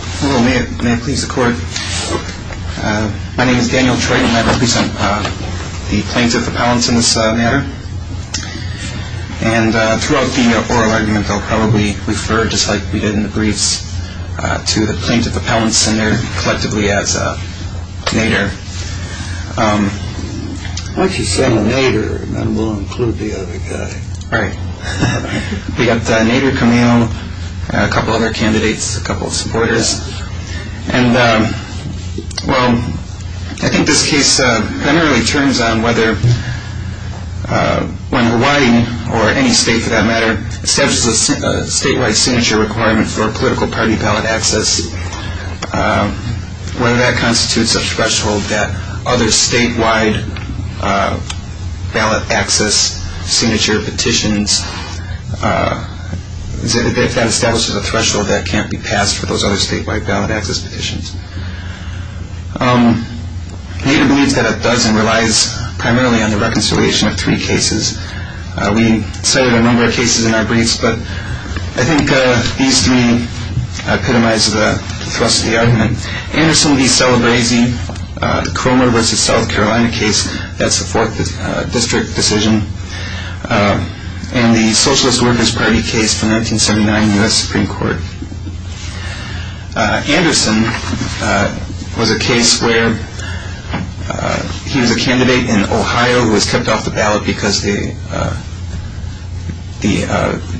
Hello. May it please the court. My name is Daniel Troyton and I represent the plaintiff appellants in this matter. And throughout the oral argument they'll probably refer, just like we did in the briefs, to the plaintiff appellants and their collectively as Nader. Why don't you say Nader and then we'll include the other guy. All right. We got Nader, Camille, a couple other candidates, a couple of supporters. And, well, I think this case primarily turns on whether when Hawaii or any state, for that matter, establishes a statewide signature requirement for political party ballot access, whether that constitutes a threshold that other statewide ballot access signature petitions, if that establishes a threshold that can't be passed for those other statewide ballot access petitions. Nader believes that it does and relies primarily on the reconciliation of three cases. We cited a number of cases in our briefs, but I think these three epitomize the thrust of the argument. Anderson v. Celebresi, Cromer v. South Carolina case, that's the fourth district decision, and the Socialist Workers Party case from 1979, U.S. Supreme Court. Anderson was a case where he was a candidate in Ohio who was kept off the ballot because the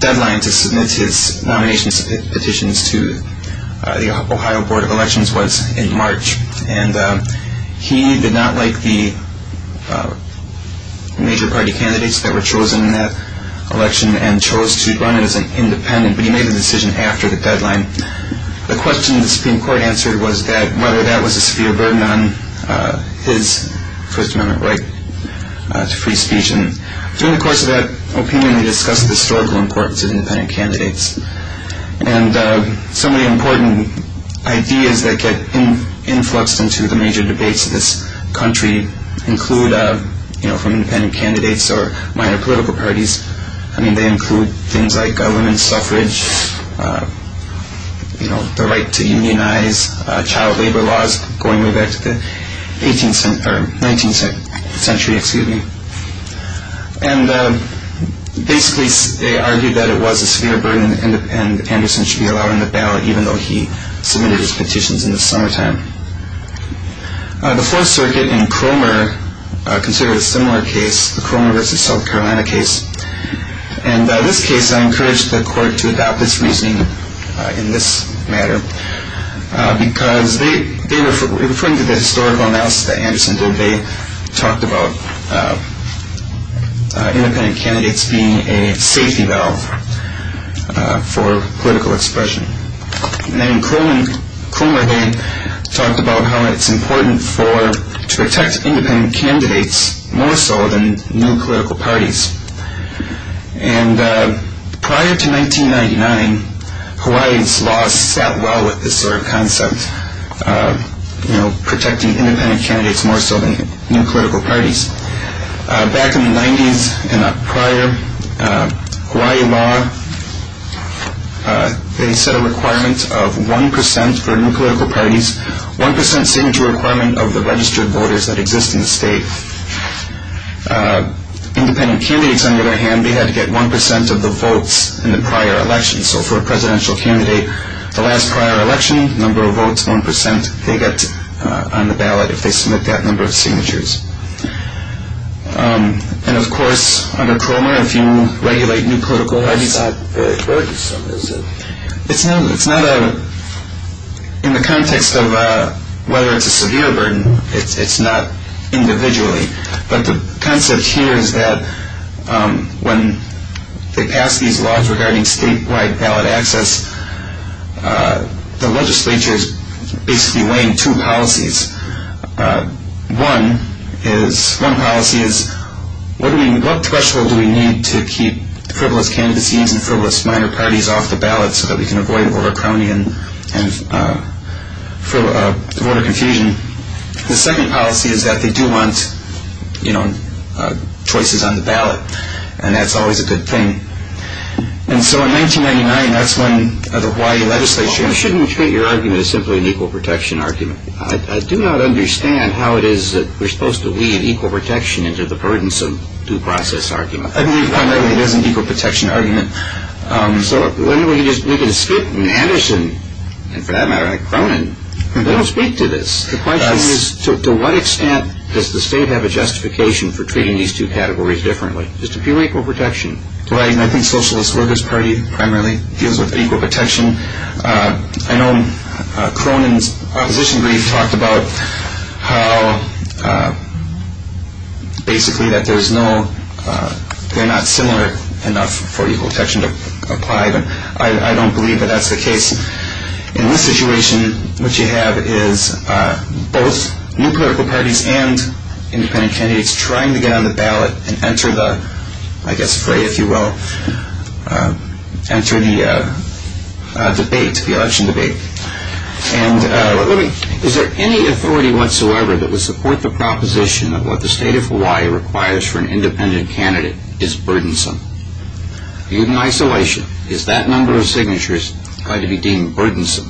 deadline to submit his nomination petitions to the Ohio Board of Elections was in March. And he did not like the major party candidates that were chosen in that election and chose to run it as an independent, but he made the decision after the deadline. The question the Supreme Court answered was whether that was a severe burden on his First Amendment right to free speech. And during the course of that opinion, they discussed the historical importance of independent candidates. And some of the important ideas that get influxed into the major debates in this country include, from independent candidates or minor political parties, they include things like women's suffrage, the right to immunize, child labor laws going way back to the 19th century. And basically they argued that it was a severe burden and Anderson should be allowed on the ballot even though he submitted his petitions in the summertime. The Fourth Circuit in Cromer considered a similar case, the Cromer v. South Carolina case. And in this case, I encourage the court to adopt its reasoning in this matter because in referring to the historical analysis that Anderson did, they talked about independent candidates being a safety valve for political expression. And in Cromer, they talked about how it's important to protect independent candidates more so than new political parties. And prior to 1999, Hawaii's laws sat well with this sort of concept, protecting independent candidates more so than new political parties. Back in the 90s and prior, Hawaii law, they set a requirement of 1% for new political parties, 1% signature requirement of the registered voters that exist in the state. Independent candidates, on the other hand, they had to get 1% of the votes in the prior election. So for a presidential candidate, the last prior election, number of votes, 1%, they got on the ballot if they submit that number of signatures. And, of course, under Cromer, if you regulate new political parties. Why is that very burdensome? It's not a – in the context of whether it's a severe burden, it's not individually. But the concept here is that when they pass these laws regarding statewide ballot access, the legislature is basically weighing two policies. One policy is what threshold do we need to keep frivolous candidacies and frivolous minor parties off the ballot so that we can avoid voter crony and voter confusion? The second policy is that they do want choices on the ballot, and that's always a good thing. And so in 1999, that's when the Hawaii legislature – Well, we shouldn't treat your argument as simply an equal protection argument. I do not understand how it is that we're supposed to weave equal protection into the burdensome due process argument. I mean, primarily, it is an equal protection argument. So we can skip Anderson, and for that matter, Cronin, and they don't speak to this. The question is to what extent does the state have a justification for treating these two categories differently, just a pure equal protection? Right, and I think Socialist Workers' Party primarily deals with equal protection. I know Cronin's opposition brief talked about how basically that there's no – they're not similar enough for equal protection to apply, but I don't believe that that's the case. In this situation, what you have is both new political parties and independent candidates trying to get on the ballot and enter the – I guess fray, if you will – enter the debate, the election debate. Is there any authority whatsoever that would support the proposition that what the state of Hawaii requires for an independent candidate is burdensome? Even in isolation, is that number of signatures going to be deemed burdensome?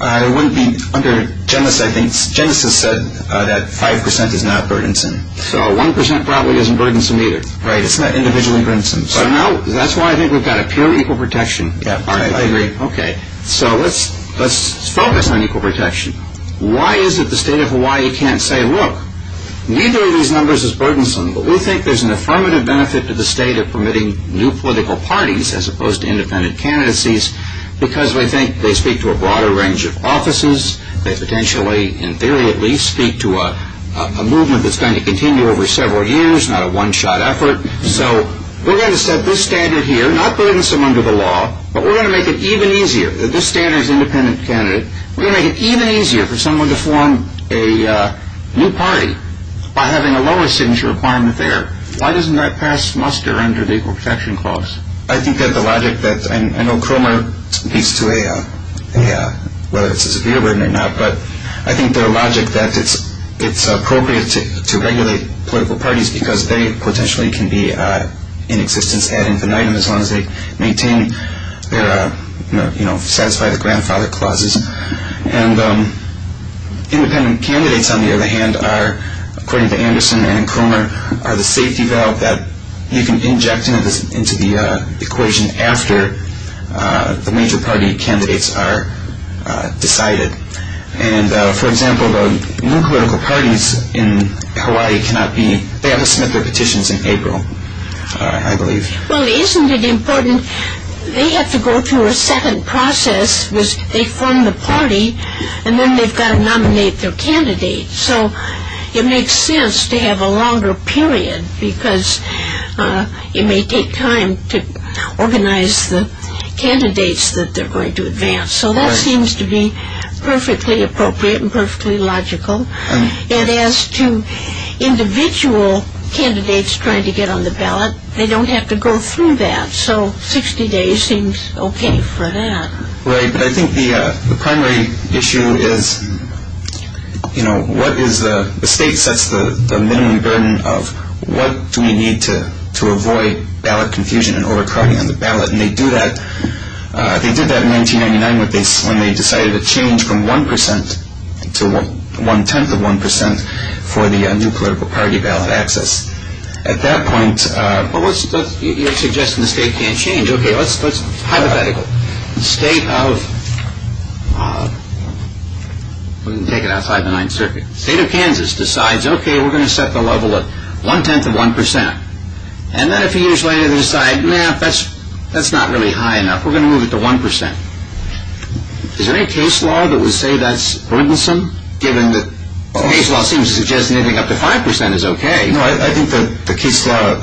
It wouldn't be under – Genesis said that 5% is not burdensome. So 1% probably isn't burdensome either. Right, it's not individually burdensome. But no, that's why I think we've got a pure equal protection argument. Yeah, I agree. Okay, so let's focus on equal protection. Why is it the state of Hawaii can't say, look, neither of these numbers is burdensome, but we think there's an affirmative benefit to the state of permitting new political parties as opposed to independent candidacies because we think they speak to a broader range of offices. They potentially, in theory at least, speak to a movement that's going to continue over several years, not a one-shot effort. So we're going to set this standard here, not burdensome under the law, but we're going to make it even easier. This standard is independent candidate. We're going to make it even easier for someone to form a new party by having a lower signature requirement there. Why doesn't that pass muster under the equal protection clause? I think that the logic that I know Cromer speaks to whether it's a severe burden or not, but I think the logic that it's appropriate to regulate political parties because they potentially can be in existence ad infinitum as long as they satisfy the grandfather clauses. And independent candidates, on the other hand, are, according to Anderson and Cromer, are the safety valve that you can inject into the equation after the major party candidates are decided. And, for example, the new political parties in Hawaii cannot be, they have to submit their petitions in April, I believe. Well, isn't it important, they have to go through a second process which they form the party and then they've got to nominate their candidates. So it makes sense to have a longer period because it may take time to organize the candidates that they're going to advance. So that seems to be perfectly appropriate and perfectly logical. And as to individual candidates trying to get on the ballot, they don't have to go through that. So 60 days seems okay for that. Right, but I think the primary issue is, you know, what is the, the state sets the minimum burden of what do we need to avoid ballot confusion and overcrowding on the ballot. And they do that, they did that in 1999 when they decided to change from one percent to one-tenth of one percent for the new political party ballot access. At that point... You're suggesting the state can't change. Okay, let's hypothetical. The state of... We can take it outside the Ninth Circuit. The state of Kansas decides, okay, we're going to set the level of one-tenth of one percent. And then a few years later they decide, nah, that's not really high enough. We're going to move it to one percent. Is there any case law that would say that's burdensome, given that the case law seems to suggest anything up to five percent is okay? No, I think the case law,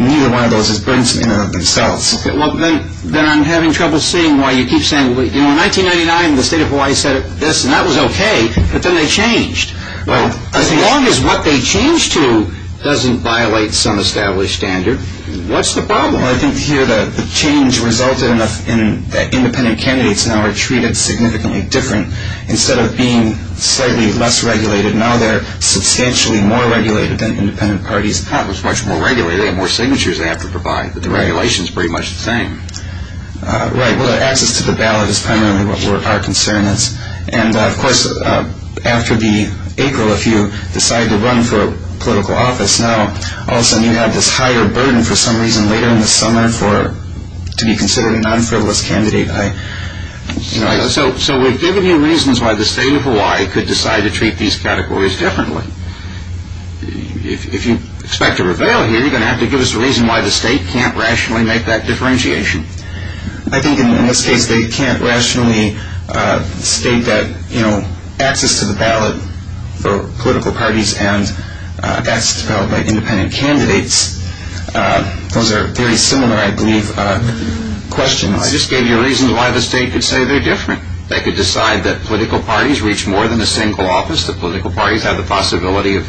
neither one of those is burdensome in and of themselves. Okay, well, then I'm having trouble seeing why you keep saying, you know, in 1999 the state of Hawaii said this and that was okay, but then they changed. Well, I think... As long as what they changed to doesn't violate some established standard, what's the problem? Well, I think here the change resulted in independent candidates now are treated significantly different. Instead of being slightly less regulated, now they're substantially more regulated than independent parties. Well, it's much more regulated. They have more signatures they have to provide, but the regulation is pretty much the same. Right. Well, access to the ballot is primarily what our concern is. And, of course, after the April, if you decide to run for political office, now all of a sudden you have this higher burden for some reason later in the summer to be considered a non-frivolous candidate. So we've given you reasons why the state of Hawaii could decide to treat these categories differently. If you expect a reveal here, you're going to have to give us a reason why the state can't rationally make that differentiation. I think in this case they can't rationally state that, you know, access to the ballot for political parties and access to the ballot by independent candidates, those are very similar, I believe, questions. No, I just gave you reasons why the state could say they're different. They could decide that political parties reach more than a single office, that political parties have the possibility of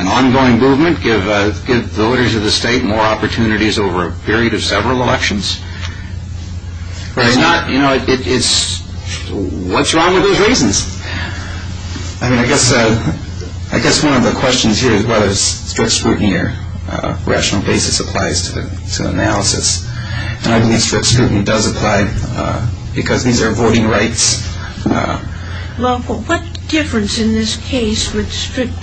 an ongoing movement, give voters of the state more opportunities over a period of several elections. Right. It's not, you know, it's, what's wrong with those reasons? I mean, I guess one of the questions here is whether strict scrutiny or rational basis applies to the analysis. And I believe strict scrutiny does apply because these are voting rights. Well, what difference in this case would strict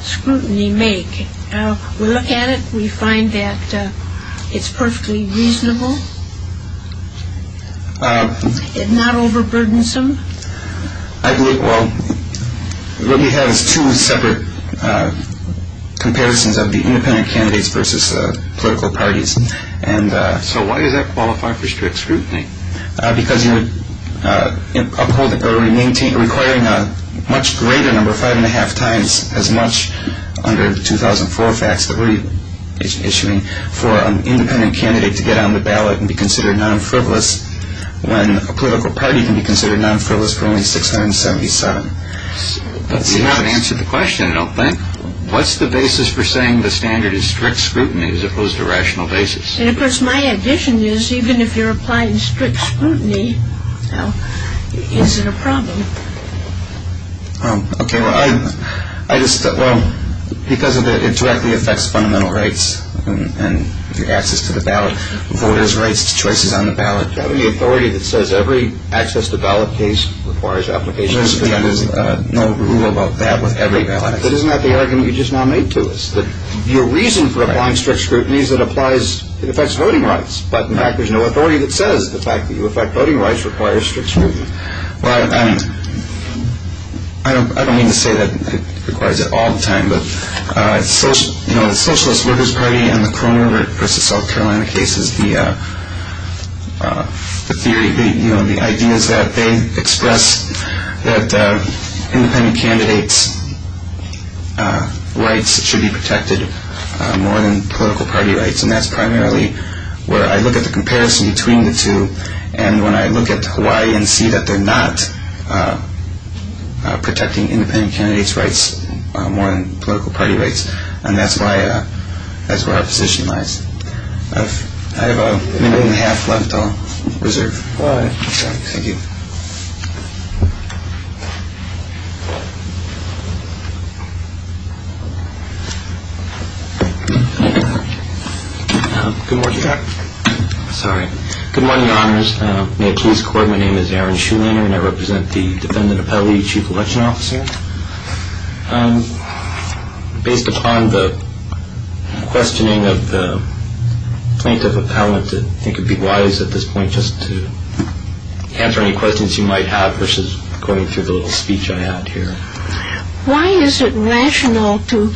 scrutiny make? We look at it, we find that it's perfectly reasonable, it's not overburdensome. I believe, well, what we have is two separate comparisons of the independent candidates versus political parties. So why does that qualify for strict scrutiny? Because you would uphold or maintain, requiring a much greater number, five and a half times as much under the 2004 facts that we're issuing, for an independent candidate to get on the ballot and be considered non-frivolous when a political party can be considered non-frivolous for only 677. We haven't answered the question, I don't think. What's the basis for saying the standard is strict scrutiny as opposed to rational basis? And, of course, my addition is even if you're applying strict scrutiny, now, is it a problem? Okay, well, I just, well, because of the, it directly affects fundamental rights and your access to the ballot, voters' rights to choices on the ballot. Do you have any authority that says every access to ballot case requires application of strict scrutiny? There's no rule about that with every ballot case. But isn't that the argument you just now made to us? That your reason for applying strict scrutiny is it applies, it affects voting rights. But, in fact, there's no authority that says the fact that you affect voting rights requires strict scrutiny. Well, I mean, I don't mean to say that it requires it all the time, but the Socialist Voters' Party and the Corona versus South Carolina case is the theory, you know, the ideas that they express that independent candidates' rights should be protected more than political party rights. And that's primarily where I look at the comparison between the two. And when I look at Hawaii and see that they're not protecting independent candidates' rights more than political party rights, and that's why, that's where our position lies. I have a minute and a half left. I'll reserve. All right. Thank you. Thank you. Good morning. Sorry. Good morning, honors. May it please record my name is Aaron Schumann and I represent the defendant appellee chief election officer. Based upon the questioning of the plaintiff appellant, I think it would be wise at this point just to answer any questions you might have versus going through the little speech I had here. Why is it rational to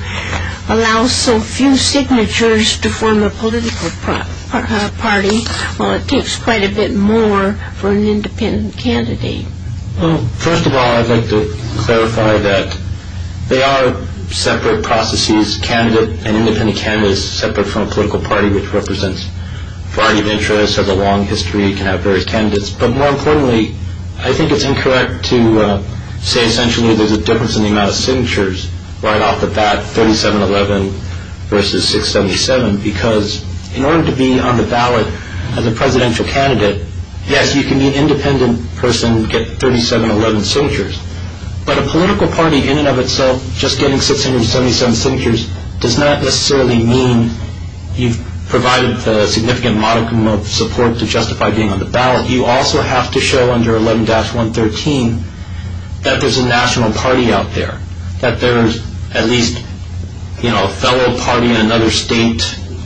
allow so few signatures to form a political party? Well, it takes quite a bit more for an independent candidate. Well, first of all, I'd like to clarify that they are separate processes, an independent candidate is separate from a political party, which represents a variety of interests, has a long history, can have various candidates. But more importantly, I think it's incorrect to say essentially there's a difference in the amount of signatures right off the bat, 3711 versus 677, because in order to be on the ballot as a presidential candidate, yes, you can be an independent person, get 3711 signatures. But a political party in and of itself, just getting 677 signatures does not necessarily mean you've provided a significant modicum of support to justify being on the ballot. You also have to show under 11-113 that there's a national party out there, that there's at least a fellow party in another state,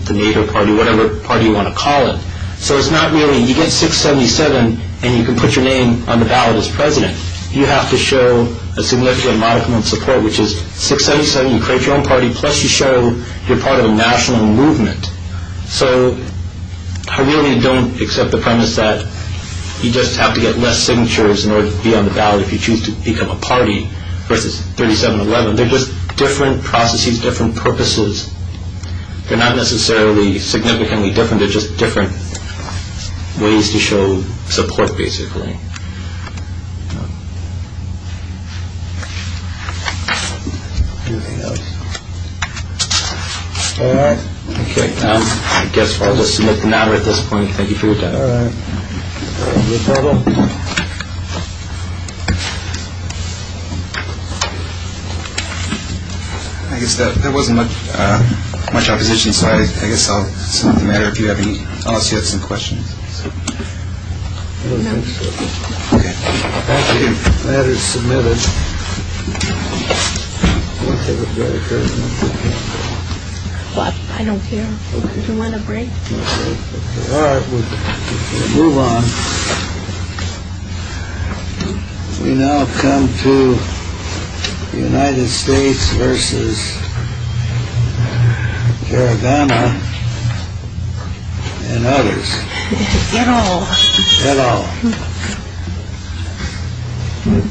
the NATO party, whatever party you want to call it. So it's not really you get 677 and you can put your name on the ballot as president. You have to show a significant modicum of support, which is 677, you create your own party, plus you show you're part of a national movement. So I really don't accept the premise that you just have to get less signatures in order to be on the ballot if you choose to become a party versus 3711. They're just different processes, different purposes. They're not necessarily significantly different. They're just different ways to show support, basically. OK, I guess I'll just submit the matter at this point. Thank you for your time. I guess there wasn't much opposition, so I guess I'll submit the matter if you have any. Some questions submitted. I don't care if you want to break. Move on. We now come to the United States versus. Garagana and others. You know. You know. You know.